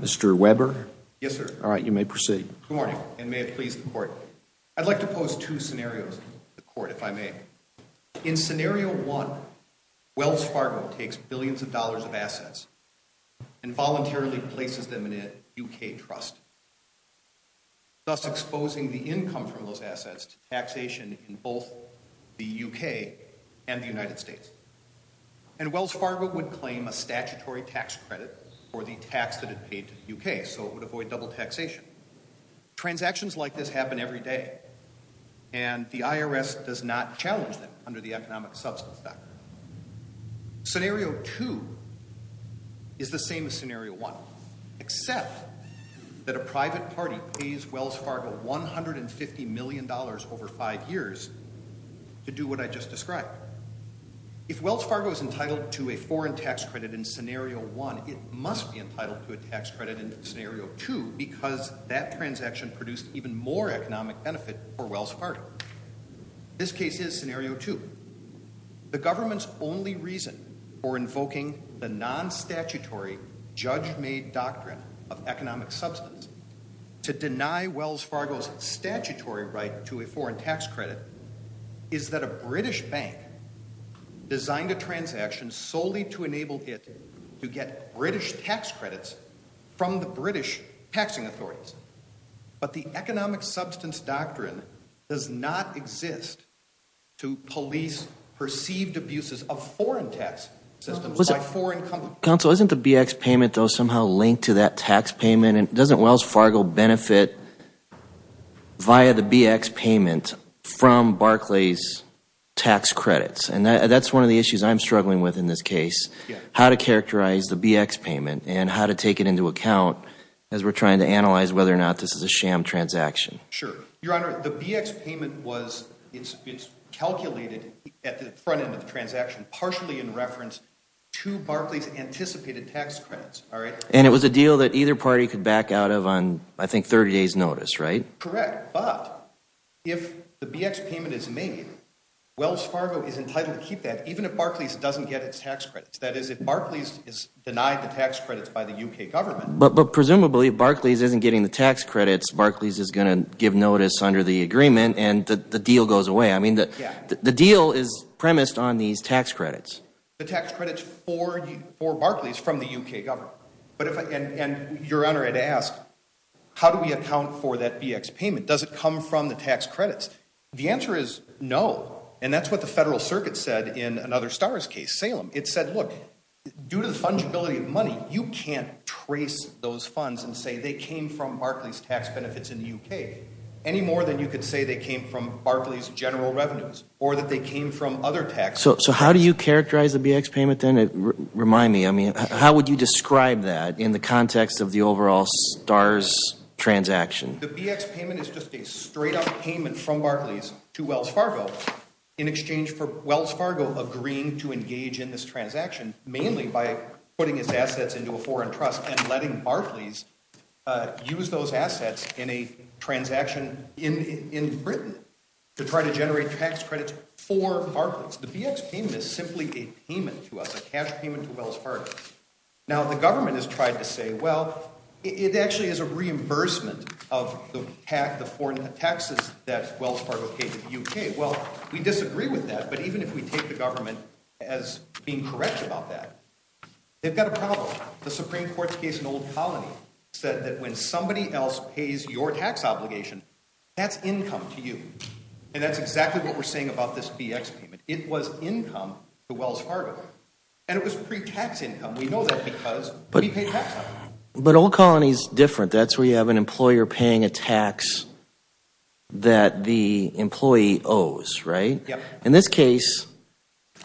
Mr. Weber. Yes sir. Alright, you may proceed. Good morning, and may it please the court. I'd like to pose two scenarios to the court, if I may. In scenario one, Wells Fargo takes billions of dollars of assets and voluntarily places them in a UK trust, thus exposing the income from those assets to taxation in both the UK and the United States. And Wells Fargo would claim a statutory tax credit for the tax that it paid to the UK, so it would avoid double taxation. Transactions like this happen every day, and the IRS does not challenge them under the Economic Substance Act. Scenario two is the same as scenario one, except that a private party pays Wells Fargo $150 million over five years to do what I just described. If Wells Fargo is entitled to a foreign tax credit in scenario one, it must be entitled to a tax credit in scenario two because that transaction produced even more economic benefit for Wells Fargo. This case is scenario two. The government's only reason for invoking the non-statutory, judge-made doctrine of economic substance to deny Wells Fargo's statutory right to a foreign tax credit is that a British bank designed a transaction solely to enable it to get British tax credits from the British taxing authorities, but the economic substance doctrine does not exist to police perceived abuses of foreign tax systems by foreign companies. Counsel, isn't the BX payment, though, somehow linked to that tax payment, and doesn't Wells from Barclays' tax credits, and that's one of the issues I'm struggling with in this case, how to characterize the BX payment and how to take it into account as we're trying to analyze whether or not this is a sham transaction. Sure. Your Honor, the BX payment was calculated at the front end of the transaction partially in reference to Barclays' anticipated tax credits, all right? And it was a deal that either party could back out of on, I think, 30 days' notice, right? Correct. But if the BX payment is made, Wells Fargo is entitled to keep that even if Barclays doesn't get its tax credits. That is, if Barclays is denied the tax credits by the U.K. government. But presumably, if Barclays isn't getting the tax credits, Barclays is going to give notice under the agreement and the deal goes away. I mean, the deal is premised on these tax credits. The tax credits for Barclays from the U.K. government. Your Honor, I'd ask, how do we account for that BX payment? Does it come from the tax credits? The answer is no. And that's what the Federal Circuit said in another STARS case, Salem. It said, look, due to the fungibility of money, you can't trace those funds and say they came from Barclays' tax benefits in the U.K. any more than you could say they came from Barclays' general revenues or that they came from other tax credits. So how do you characterize the BX payment then? Remind me, I mean, how would you describe that in the context of the overall STARS transaction? The BX payment is just a straight-up payment from Barclays to Wells Fargo in exchange for Wells Fargo agreeing to engage in this transaction, mainly by putting its assets into a foreign trust and letting Barclays use those assets in a transaction in Britain to try to generate tax credits for Barclays. The BX payment is simply a payment to us, a cash payment to Wells Fargo. Now the government has tried to say, well, it actually is a reimbursement of the taxes that Wells Fargo paid to the U.K. Well, we disagree with that, but even if we take the government as being correct about that, they've got a problem. The Supreme Court's case in Old Colony said that when somebody else pays your tax obligation, that's income to you. And that's exactly what we're saying about this BX payment. It was income to Wells Fargo, and it was pre-tax income. We know that because we pay tax on it. But Old Colony's different. That's where you have an employer paying a tax that the employee owes, right? Yeah. In this case,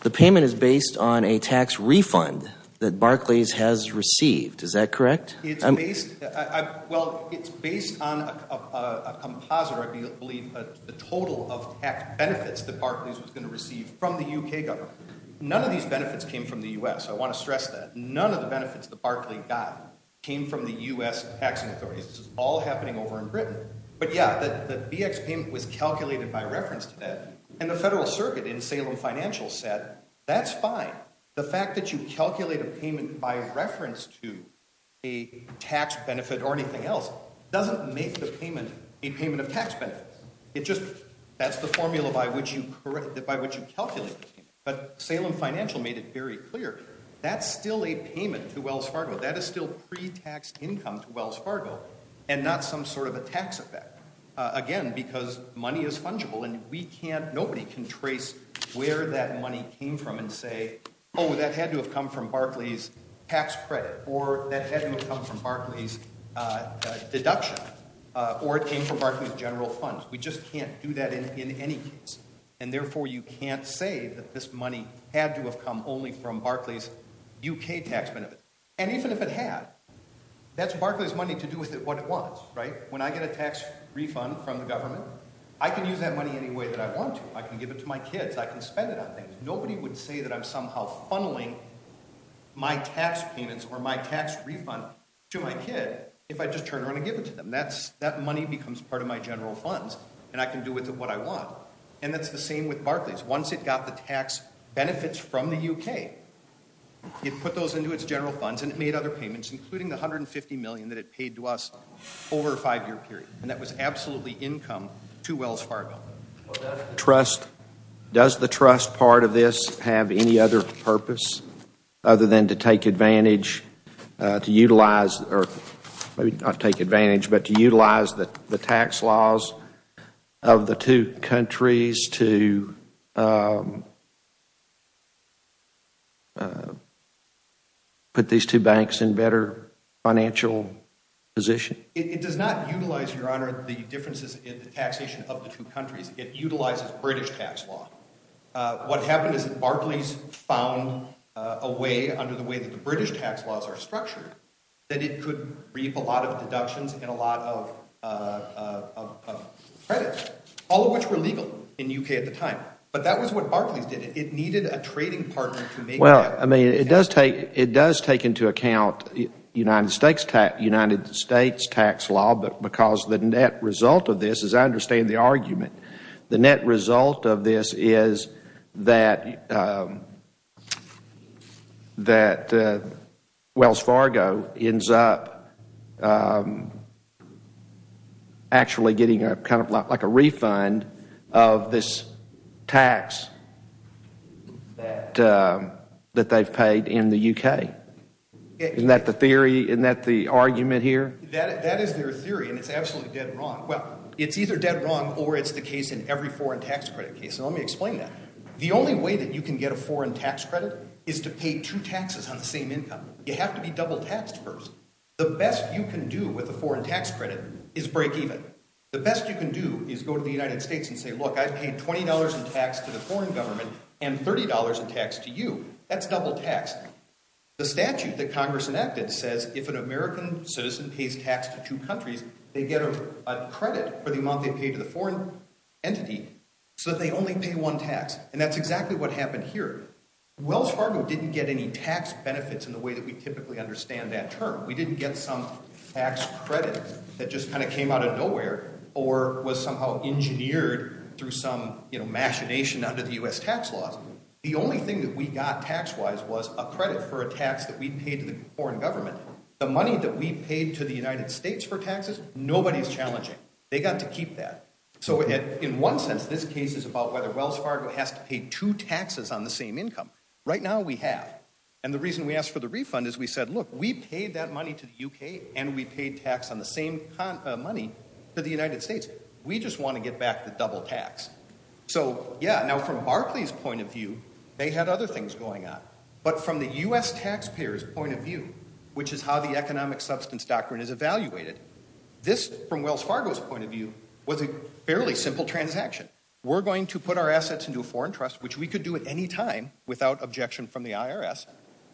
the payment is based on a tax refund that Barclays has received. Is that correct? It's based, well, it's based on a composite, I believe, a total of tax benefits that Barclays was going to receive from the U.K. government. None of these benefits came from the U.S., I want to stress that. None of the benefits that Barclays got came from the U.S. taxing authorities. This is all happening over in Britain. But yeah, the BX payment was calculated by reference to that, and the Federal Circuit in Salem Financial said, that's fine. The fact that you calculate a payment by reference to a tax benefit or anything else doesn't make the payment a payment of tax benefits. It just, that's the formula by which you calculate the payment. But Salem Financial made it very clear, that's still a payment to Wells Fargo. That is still pre-taxed income to Wells Fargo, and not some sort of a tax effect. Again, because money is fungible, and we can't, nobody can trace where that money came from and say, that had to have come from Barclays' tax credit, or that had to have come from Barclays' deduction, or it came from Barclays' general funds. We just can't do that in any case. And therefore, you can't say that this money had to have come only from Barclays' UK tax benefit. And even if it had, that's Barclays' money to do with it what it was, right? When I get a tax refund from the government, I can use that money any way that I want to. I can give it to my kids, I can spend it on things. Nobody would say that I'm somehow funneling my tax payments or my tax refund to my kid if I just turn around and give it to them. That money becomes part of my general funds, and I can do with it what I want. And that's the same with Barclays. Once it got the tax benefits from the UK, it put those into its general funds and it made other payments, including the $150 million that it paid to us over a five year period. And that was absolutely income to Wells Fargo. Does the trust part of this have any other purpose other than to take advantage, to utilize, or maybe not take advantage, but to utilize the tax laws of the two countries to put these two banks in better financial position? It does not utilize, Your Honor, the differences in the taxation of the two countries. It utilizes British tax law. What happened is that Barclays found a way, under the way that the British tax laws are structured, that it could reap a lot of deductions and a lot of credits, all of which were legal in the UK at the time. But that was what Barclays did. It needed a trading partner to make that. It does take into account United States tax law because the net result of this, as I understand the argument, the net result of this is that Wells Fargo ends up actually getting kind of like a refund of this tax that they've paid in the UK. Isn't that the theory? Isn't that the argument here? That is their theory and it's absolutely dead wrong. Well, it's either dead wrong or it's the case in every foreign tax credit case. Let me explain that. The only way that you can get a foreign tax credit is to pay two taxes on the same income. You have to be double taxed first. The best you can do with a foreign tax credit is break even. The best you can do is go to the United States and say, look, I paid $20 in tax to the foreign government and $30 in tax to you. That's double tax. The statute that Congress enacted says if an American citizen pays tax to two countries, they get a credit for the amount they pay to the foreign entity so that they only pay one tax. And that's exactly what happened here. Wells Fargo didn't get any tax benefits in the way that we typically understand that term. We didn't get some tax credit that just kind of came out of nowhere or was somehow engineered through some machination under the US tax laws. The only thing that we got tax-wise was a credit for a tax that we paid to the foreign government. The money that we paid to the United States for taxes, nobody's challenging. They got to keep that. So in one sense, this case is about whether Wells Fargo has to pay two taxes on the same income. Right now we have. And the reason we asked for the refund is we said, look, we paid that money to the UK and we paid tax on the same money to the United States. We just want to get back the double tax. So yeah, now from Barclay's point of view, they had other things going on. But from the US taxpayers' point of view, which is how the economic substance doctrine is evaluated, this from Wells Fargo's point of view was a fairly simple transaction. We're going to put our assets into a foreign trust, which we could do at any time without objection from the IRS.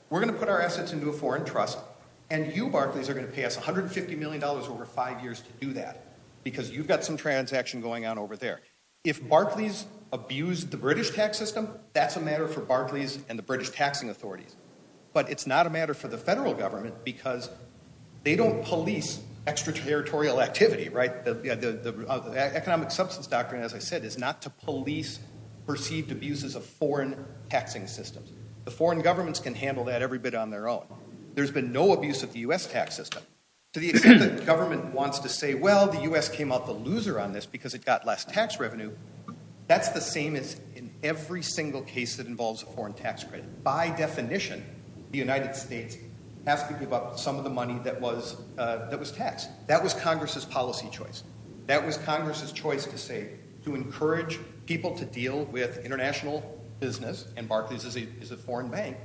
We're going to put our assets into a foreign trust. And you Barclays are going to pay us $150 million over five years to do that. Because you've got some transaction going on over there. If Barclays abused the British tax system, that's a matter for Barclays and the British taxing authorities. But it's not a matter for the federal government because they don't police extraterritorial activity, right? The economic substance doctrine, as I said, is not to police perceived abuses of foreign taxing systems. The foreign governments can handle that every bit on their own. There's been no abuse of the US tax system. To the extent that the government wants to say, well, the US came out the loser on this because it got less tax revenue, that's the same as in every single case that involves a foreign tax credit. By definition, the United States has to give up some of the money that was taxed. That was Congress's policy choice. That was Congress's choice to say, to encourage people to deal with international business, and Barclays is a foreign bank.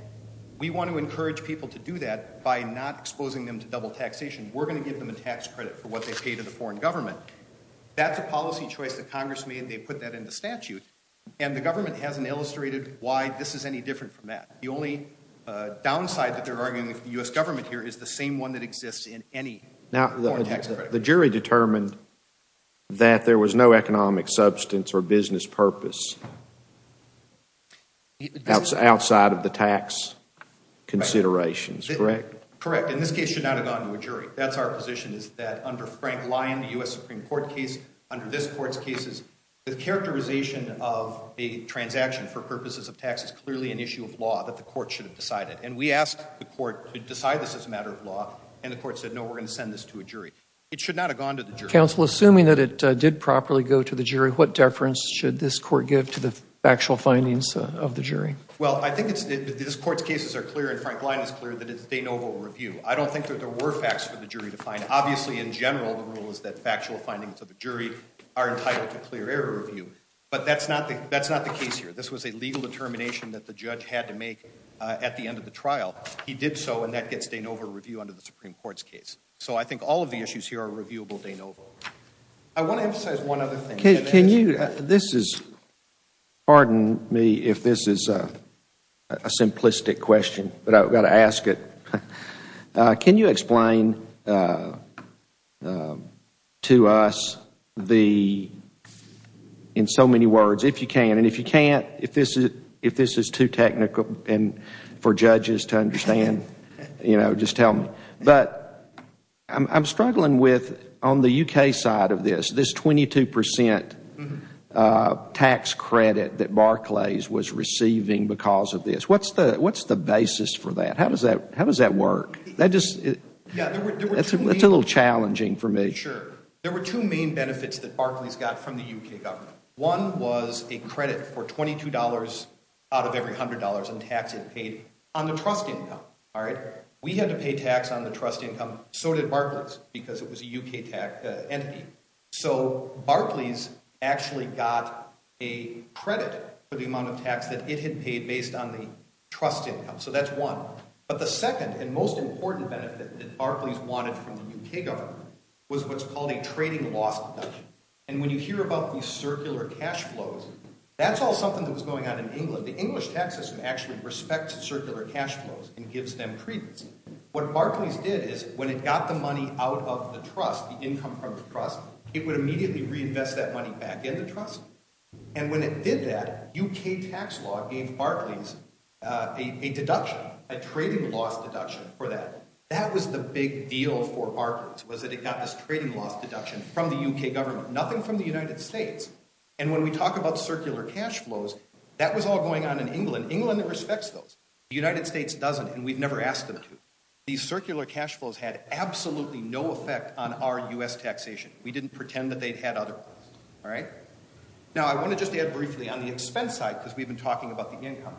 We want to encourage people to do that by not exposing them to double taxation. We're going to give them a tax credit for what they pay to the foreign government. That's a policy choice that Congress made, they put that in the statute. And the government hasn't illustrated why this is any different from that. The only downside that they're arguing with the US government here is the same one that exists in any foreign tax credit. Now, the jury determined that there was no economic substance or business purpose outside of the tax considerations, correct? Correct, and this case should not have gone to a jury. That's our position, is that under Frank Lyon, the US Supreme Court case, under this court's cases, the characterization of a transaction for purposes of tax is clearly an issue of law that the court should have decided. And we asked the court to decide this as a matter of law, and the court said, no, we're going to send this to a jury. It should not have gone to the jury. Counsel, assuming that it did properly go to the jury, what deference should this court give to the factual findings of the jury? Well, I think this court's cases are clear, and Frank Lyon is clear that it's de novo review. I don't think that there were facts for the jury to find. Obviously, in general, the rule is that factual findings of a jury are entitled to clear error review. But that's not the case here. This was a legal determination that the judge had to make at the end of the trial. He did so, and that gets de novo review under the Supreme Court's case. So I think all of the issues here are reviewable de novo. I want to emphasize one other thing. This is, pardon me if this is a simplistic question, but I've got to ask it. Can you explain to us, in so many words, if you can, and if you can't, if this is too technical for judges to understand, just tell me. But I'm struggling with, on the UK side of this, this 22% tax credit that Barclays was receiving because of this. What's the basis for that? How does that work? That's a little challenging for me. Sure. There were two main benefits that Barclays got from the UK government. One was a credit for $22 out of every $100 in tax it paid on the trust income. We had to pay tax on the trust income. So did Barclays, because it was a UK entity. So Barclays actually got a credit for the amount of tax that it had paid based on the trust income. So that's one. But the second and most important benefit that Barclays wanted from the UK government was what's called a trading loss deduction. And when you hear about these circular cash flows, that's all something that was going on in England. The English tax system actually respects circular cash flows and gives them credence. What Barclays did is, when it got the money out of the trust, the income from the trust, it would immediately reinvest that money back in the trust. And when it did that, UK tax law gave Barclays a deduction, a trading loss deduction for that. That was the big deal for Barclays, was that it got this trading loss deduction from the UK government, nothing from the United States. And when we talk about circular cash flows, that was all going on in England. England respects those. The United States doesn't, and we've never asked them to. These circular cash flows had absolutely no effect on our US taxation. We didn't pretend that they'd had otherwise, all right? Now, I want to just add briefly on the expense side, because we've been talking about the income.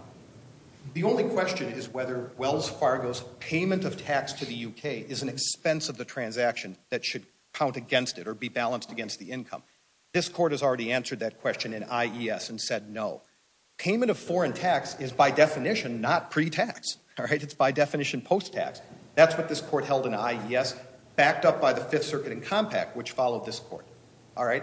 The only question is whether Wells Fargo's payment of tax to the UK is an expense of the transaction that should count against it or be balanced against the income. This court has already answered that question in IES and said no. Payment of foreign tax is, by definition, not pre-tax, all right? It's, by definition, post-tax. That's what this court held in IES, backed up by the Fifth Circuit in Compact, which followed this court, all right?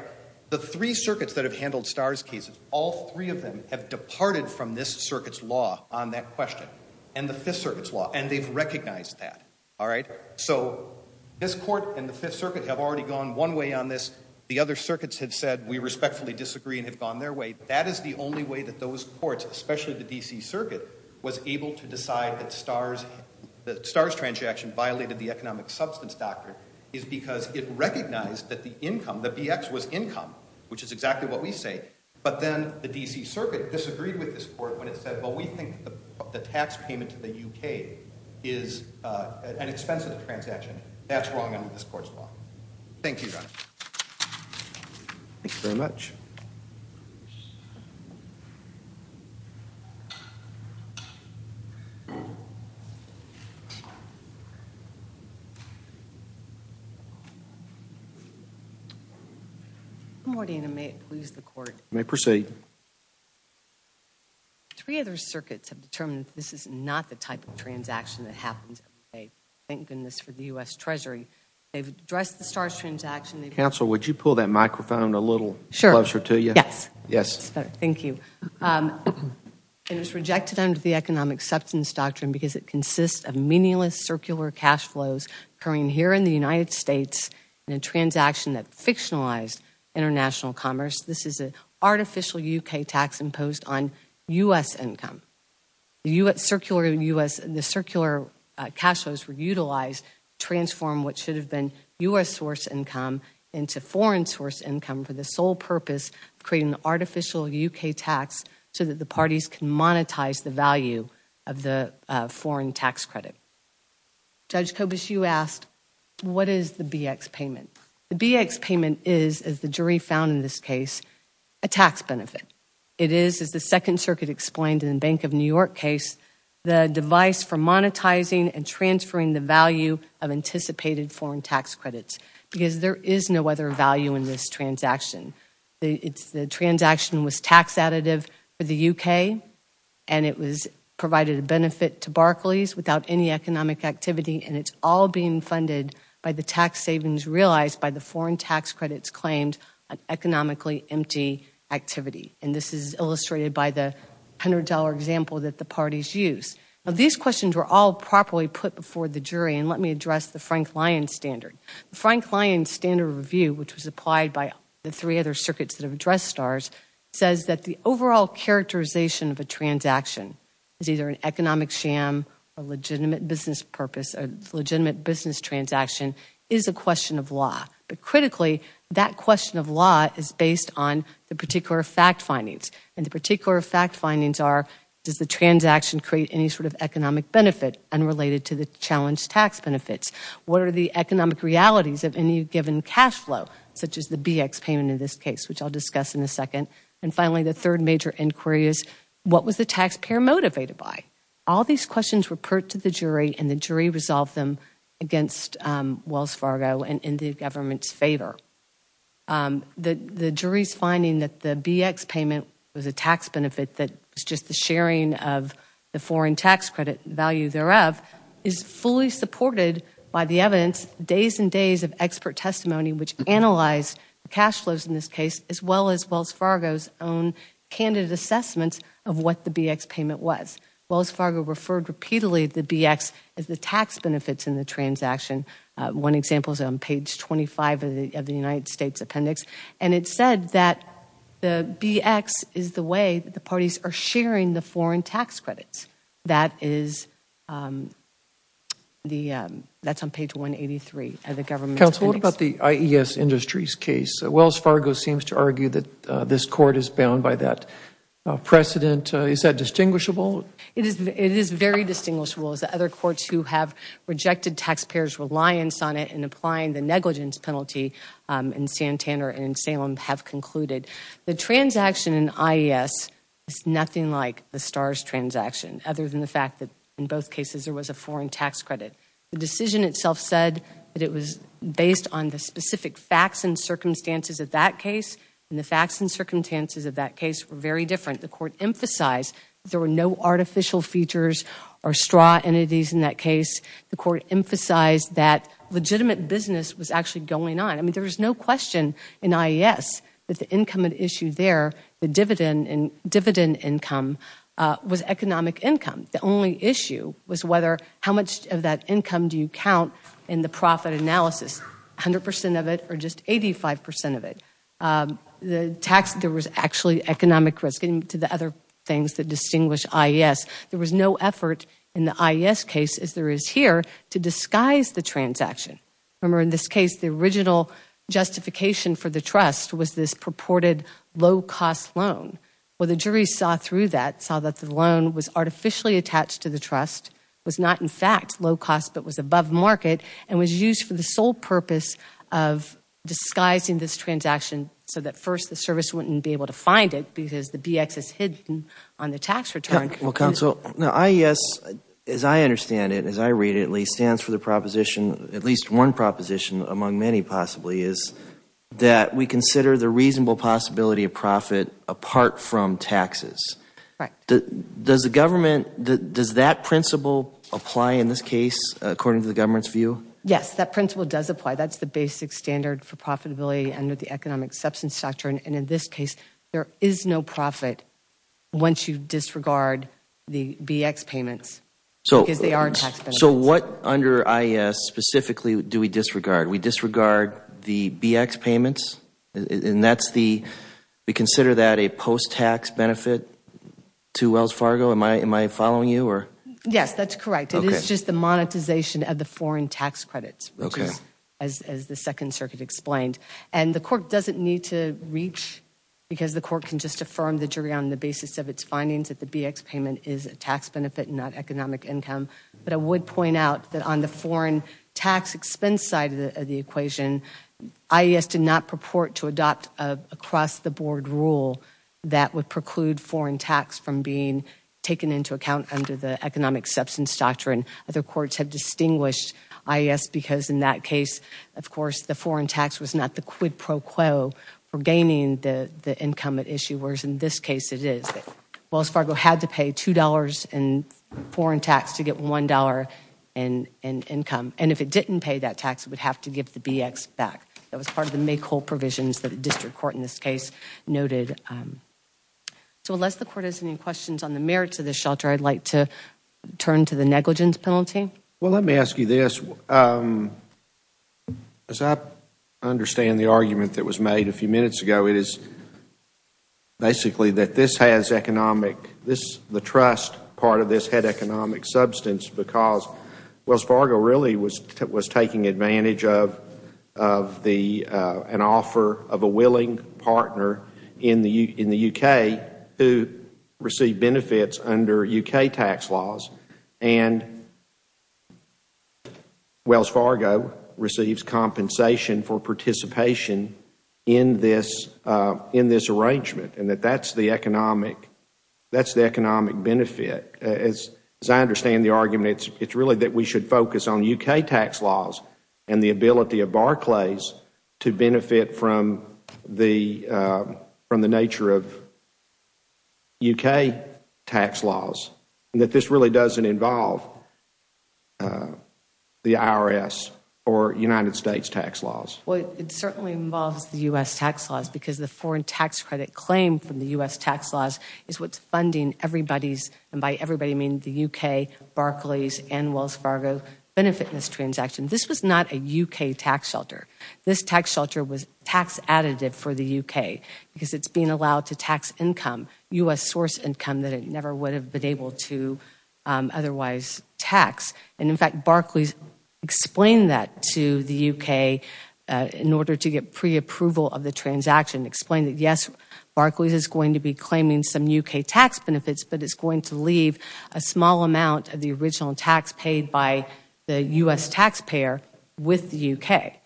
The three circuits that have handled STARS cases, all three of them have departed from this circuit's law on that question, and the Fifth Circuit's law, and they've recognized that, all right? So this court and the Fifth Circuit have already gone one way on this. The other circuits have said, we respectfully disagree and have gone their way. That is the only way that those courts, especially the DC Circuit, was able to decide that the STARS transaction violated the economic substance doctrine, is because it recognized that the income, the BX was income, which is exactly what we say, but then the DC Circuit disagreed with this court when it said, well, we think the tax payment to the UK is an expensive transaction. That's wrong under this court's law. Thank you, Your Honor. Thank you very much. Good morning, and may it please the court. You may proceed. Three other circuits have determined this is not the type of transaction that happens every day. Thank goodness for the U.S. Treasury. They've addressed the STARS transaction. Counsel, would you pull that microphone a little closer to you? Sure. Yes. Yes. Thank you. It was rejected under the economic substance doctrine because it consists of meaningless circular cash flows occurring here in the United States in a transaction that fictionalized international commerce. This is an artificial U.K. tax imposed on U.S. income. The circular cash flows were utilized to transform what should have been U.S. source income into foreign source income for the sole purpose of creating an artificial U.K. tax so that the parties can monetize the value of the foreign tax credit. Judge Kobush, you asked, what is the BX payment? The BX payment is, as the jury found in this case, a tax benefit. It is, as the Second Circuit explained in the Bank of New York case, the device for monetizing and transferring the value of anticipated foreign tax credits because there is no other value in this transaction. The transaction was tax additive for the U.K., and it provided a benefit to Barclays without any economic activity, and it's all being funded by the tax savings realized by the foreign tax credit's claimed economically empty activity. And this is illustrated by the $100 example that the parties used. Now, these questions were all properly put before the jury, and let me address the Frank Lyons standard. The Frank Lyons standard review, which was applied by the three other circuits that have addressed STARS, says that the overall characterization of a transaction is either an economic sham, a legitimate business purpose, a legitimate business transaction is a question of law. But critically, that question of law is based on the particular fact findings. And the particular fact findings are, does the transaction create any sort of economic benefit unrelated to the challenged tax benefits? What are the economic realities of any given cash flow, such as the BX payment in this case, which I'll discuss in a second? And finally, the third major inquiry is, what was the taxpayer motivated by? All these questions were put to the jury, and the jury resolved them against Wells Fargo and in the government's favor. The jury's finding that the BX payment was a tax benefit that was just the sharing of the foreign tax credit value thereof is fully supported by the evidence, days and days of expert testimony, which analyzed the cash flows in this case, as well as Wells Fargo's own candid assessments of what the BX payment was. Wells Fargo referred repeatedly to the BX as the tax benefits in the transaction. One example is on page 25 of the United States appendix, and it said that the BX is the way that the parties are sharing the foreign tax credits. That is on page 183 of the government's appendix. Counsel, what about the IES Industries case? Wells Fargo seems to argue that this court is bound by that precedent. Is that distinguishable? It is very distinguishable, as the other courts who have rejected taxpayers' reliance on it in applying the negligence penalty in Santander and in Salem have concluded. The transaction in IES is nothing like the STARS transaction, other than the fact that in both cases there was a foreign tax credit. The decision itself said that it was based on the specific facts and circumstances of that case, and the facts and circumstances of that case were very different. The court emphasized that there were no artificial features or straw entities in that case. The court emphasized that legitimate business was actually going on. I mean, there is no question in IES that the income at issue there, the dividend income, was economic income. The only issue was how much of that income do you count in the profit analysis, 100 percent of it or just 85 percent of it. There was actually economic risk, and to the other things that distinguish IES, there was no effort in the IES case, as there is here, to disguise the transaction. Remember, in this case, the original justification for the trust was this purported low-cost loan. Well, the jury saw through that, saw that the loan was artificially attached to the trust, was not, in fact, low-cost, but was above market, and was used for the sole purpose of disguising this transaction so that, first, the service wouldn't be able to find it because the BX is hidden on the tax return. Well, Counsel, IES, as I understand it, as I read it, at least stands for the proposition, at least one proposition among many possibly, is that we consider the reasonable possibility of profit apart from taxes. Right. Does the government, does that principle apply in this case, according to the government's view? Yes, that principle does apply. That's the basic standard for profitability under the economic substance doctrine, and in this case, there is no profit once you disregard the BX payments because they are tax benefits. So what under IES specifically do we disregard? We disregard the BX payments, and that's the, we consider that a post-tax benefit to Wells Fargo? Am I following you? Yes, that's correct. It is just the monetization of the foreign tax credits, which is, as the Second Circuit explained. And the court doesn't need to reach, because the court can just affirm the jury on the basis of its findings, that the BX payment is a tax benefit and not economic income. But I would point out that on the foreign tax expense side of the equation, IES did not purport to adopt an across-the-board rule that would preclude foreign tax from being taken into account under the economic substance doctrine. Other courts have distinguished IES because in that case, of course the foreign tax was not the quid pro quo for gaining the income at issue, whereas in this case it is. Wells Fargo had to pay $2 in foreign tax to get $1 in income, and if it didn't pay that tax, it would have to give the BX back. That was part of the make-whole provisions that a district court in this case noted. So unless the court has any questions on the merits of this shelter, I'd like to turn to the negligence penalty. Well, let me ask you this. As I understand the argument that was made a few minutes ago, it is basically that this has economic, the trust part of this had economic substance because Wells Fargo really was taking advantage of an offer of a willing partner in the U.K. who received benefits under U.K. tax laws, and Wells Fargo receives compensation for participation in this arrangement, and that that's the economic benefit. As I understand the argument, it's really that we should focus on U.K. tax laws and the ability of Barclays to benefit from the nature of U.K. tax laws, and that this really doesn't involve the IRS or United States tax laws. Well, it certainly involves the U.S. tax laws because the foreign tax credit claim from the U.S. tax laws is what's funding everybody's, and by everybody I mean the U.K., Barclays, and Wells Fargo benefit in this transaction. This was not a U.K. tax shelter. This tax shelter was tax additive for the U.K. because it's being allowed to tax income, U.S. source income, that it never would have been able to otherwise tax, and in fact Barclays explained that to the U.K. in order to get preapproval of the transaction, explained that yes, Barclays is going to be claiming some U.K. tax benefits, but it's going to leave a small amount of the original tax paid by the U.S. taxpayer with the U.K.,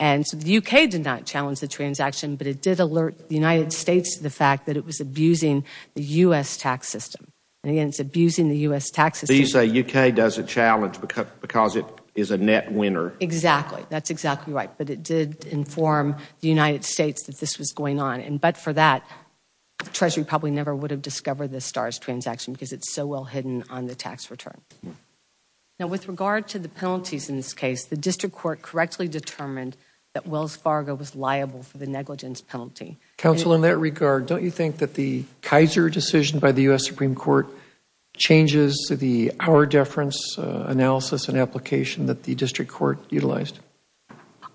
and so the U.K. did not challenge the transaction, but it did alert the United States to the fact that it was abusing the U.S. tax system, and again, it's abusing the U.S. tax system. So you say U.K. doesn't challenge because it is a net winner? Exactly, that's exactly right, but it did inform the United States that this was going on, but for that, Treasury probably never would have discovered the STARS transaction because it's so well hidden on the tax return. Now with regard to the penalties in this case, the district court correctly determined that Wells Fargo was liable for the negligence penalty. Counsel, in that regard, don't you think that the Kaiser decision by the U.S. Supreme Court changes the hour deference analysis and application that the district court utilized?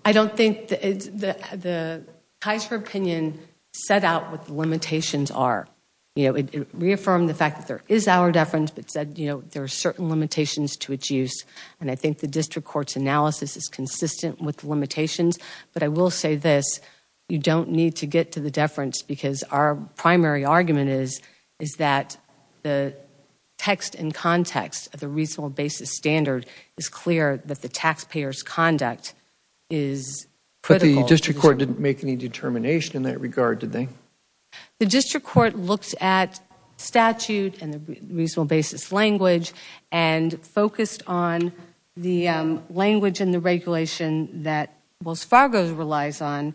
I don't think the Kaiser opinion set out what the limitations are. You know, it reaffirmed the fact that there is hour deference, but said, you know, there are certain limitations to its use, and I think the district court's analysis is consistent with the limitations, but I will say this, you don't need to get to the deference because our primary argument is that the text and context of the reasonable basis standard is clear that the taxpayer's conduct is critical. But the district court didn't make any determination in that regard, did they? The district court looked at statute and the reasonable basis language and focused on the language in the regulation that Wells Fargo relies on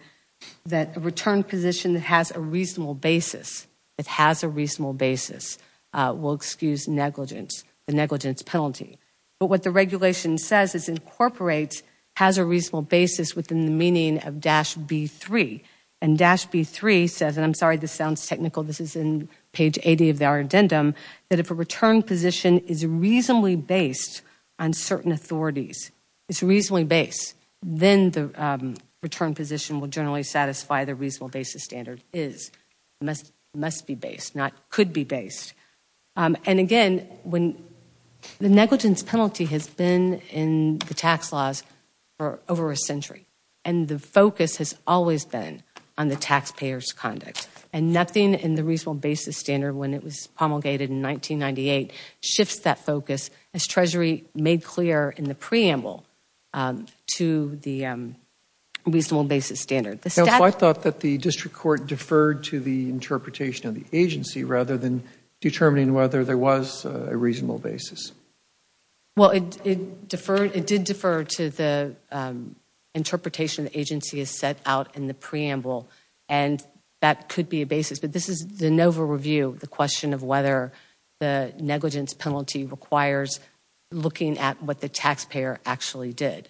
that a return position that has a reasonable basis, that has a reasonable basis, will excuse negligence, the negligence penalty. But what the regulation says is incorporates, has a reasonable basis within the meaning of dash B3. And dash B3 says, and I'm sorry this sounds technical, this is in page 80 of our addendum, that if a return position is reasonably based on certain authorities, it's reasonably based, then the return position will generally satisfy the reasonable basis standard is, must be based, not could be based. And again, the negligence penalty has been in the tax laws for over a century and the focus has always been on the taxpayer's conduct and nothing in the reasonable basis standard when it was promulgated in 1998 shifts that focus as Treasury made clear in the preamble to the reasonable basis standard. I thought that the district court deferred to the interpretation of the agency rather than determining whether there was a reasonable basis. Well, it did defer to the interpretation the agency has set out in the preamble and that could be a basis, but this is the NOVA review, the question of whether the negligence penalty requires looking at what the taxpayer actually did.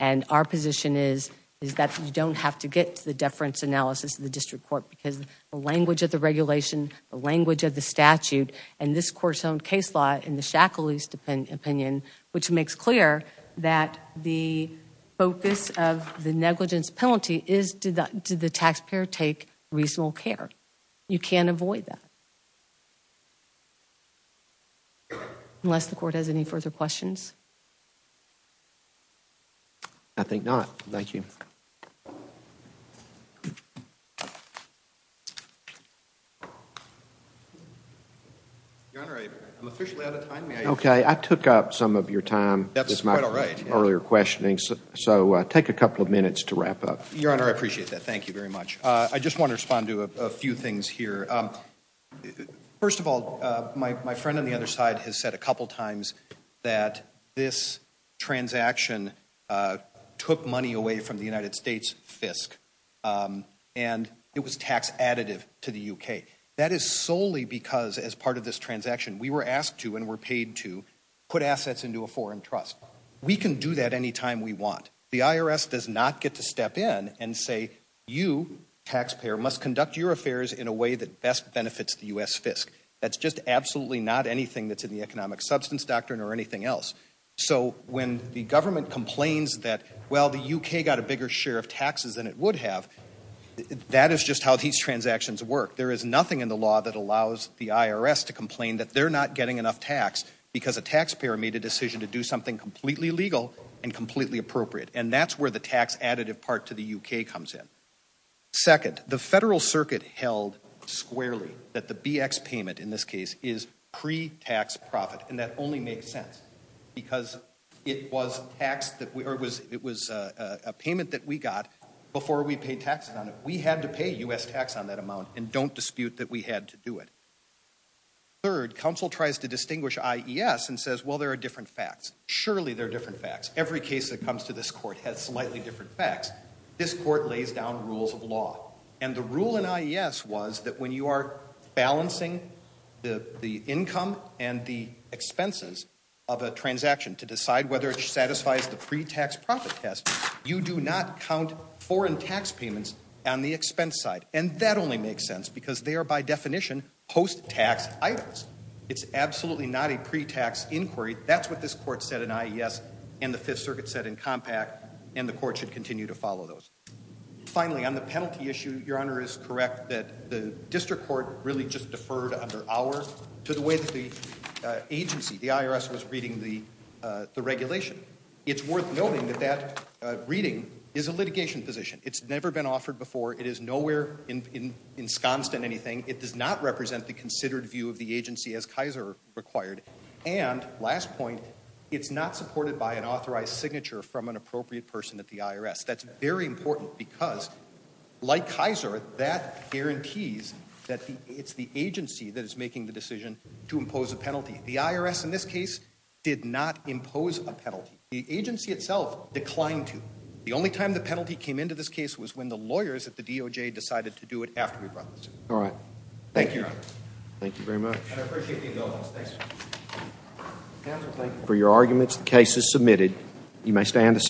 And our position is that you don't have to get to the deference analysis of the district court because the language of the regulation, the language of the statute, and this court's own case law in the Shackley's opinion, which makes clear that the focus of the negligence penalty is, did the taxpayer take reasonable care? You can't avoid that. Unless the court has any further questions. I think not. Thank you. Your Honor, I'm officially out of time. Okay, I took up some of your time with my earlier questioning, so take a couple of minutes to wrap up. Your Honor, I appreciate that. Thank you very much. I just want to respond to a few things here. First of all, my friend on the other side has said a couple times that this transaction took money away from the United States FISC, and it was tax additive to the U.K. That is solely because, as part of this transaction, we were asked to and were paid to put assets into a foreign trust. We can do that any time we want. The IRS does not get to step in and say, you, taxpayer, must conduct your affairs in a way that best benefits the U.S. FISC. That's just absolutely not anything that's in the economic substance doctrine or anything else. So when the government complains that, well, the U.K. got a bigger share of taxes than it would have, that is just how these transactions work. There is nothing in the law that allows the IRS to complain that they're not getting enough tax because a taxpayer made a decision to do something completely legal and completely appropriate. And that's where the tax additive part to the U.K. comes in. Second, the federal circuit held squarely that the BX payment in this case is pre-tax profit, and that only makes sense because it was a payment that we got before we paid taxes on it. We had to pay U.S. tax on that amount and don't dispute that we had to do it. Third, counsel tries to distinguish IES and says, well, there are different facts. Surely there are different facts. Every case that comes to this court has slightly different facts. This court lays down rules of law, and the rule in IES was that when you are balancing the income and the expenses of a transaction to decide whether it satisfies the pre-tax profit test, you do not count foreign tax payments on the expense side. And that only makes sense because they are by definition post-tax items. It's absolutely not a pre-tax inquiry. That's what this court said in IES and the Fifth Circuit said in Compact, and the court should continue to follow those. Finally, on the penalty issue, Your Honor is correct that the district court really just deferred under our to the way that the agency, the IRS, was reading the regulation. It's worth noting that that reading is a litigation position. It's never been offered before. It is nowhere ensconced in anything. It does not represent the considered view of the agency as Kaiser required. And, last point, it's not supported by an authorized signature from an appropriate person at the IRS. That's very important because, like Kaiser, that guarantees that it's the agency that is making the decision to impose a penalty. The IRS, in this case, did not impose a penalty. The agency itself declined to. The only time the penalty came into this case was when the lawyers at the DOJ decided to do it after we brought the suit. All right. Thank you, Your Honor. Thank you very much. And I appreciate the indulgence. Thanks. Counsel, thank you for your arguments. The case is submitted. You may stand.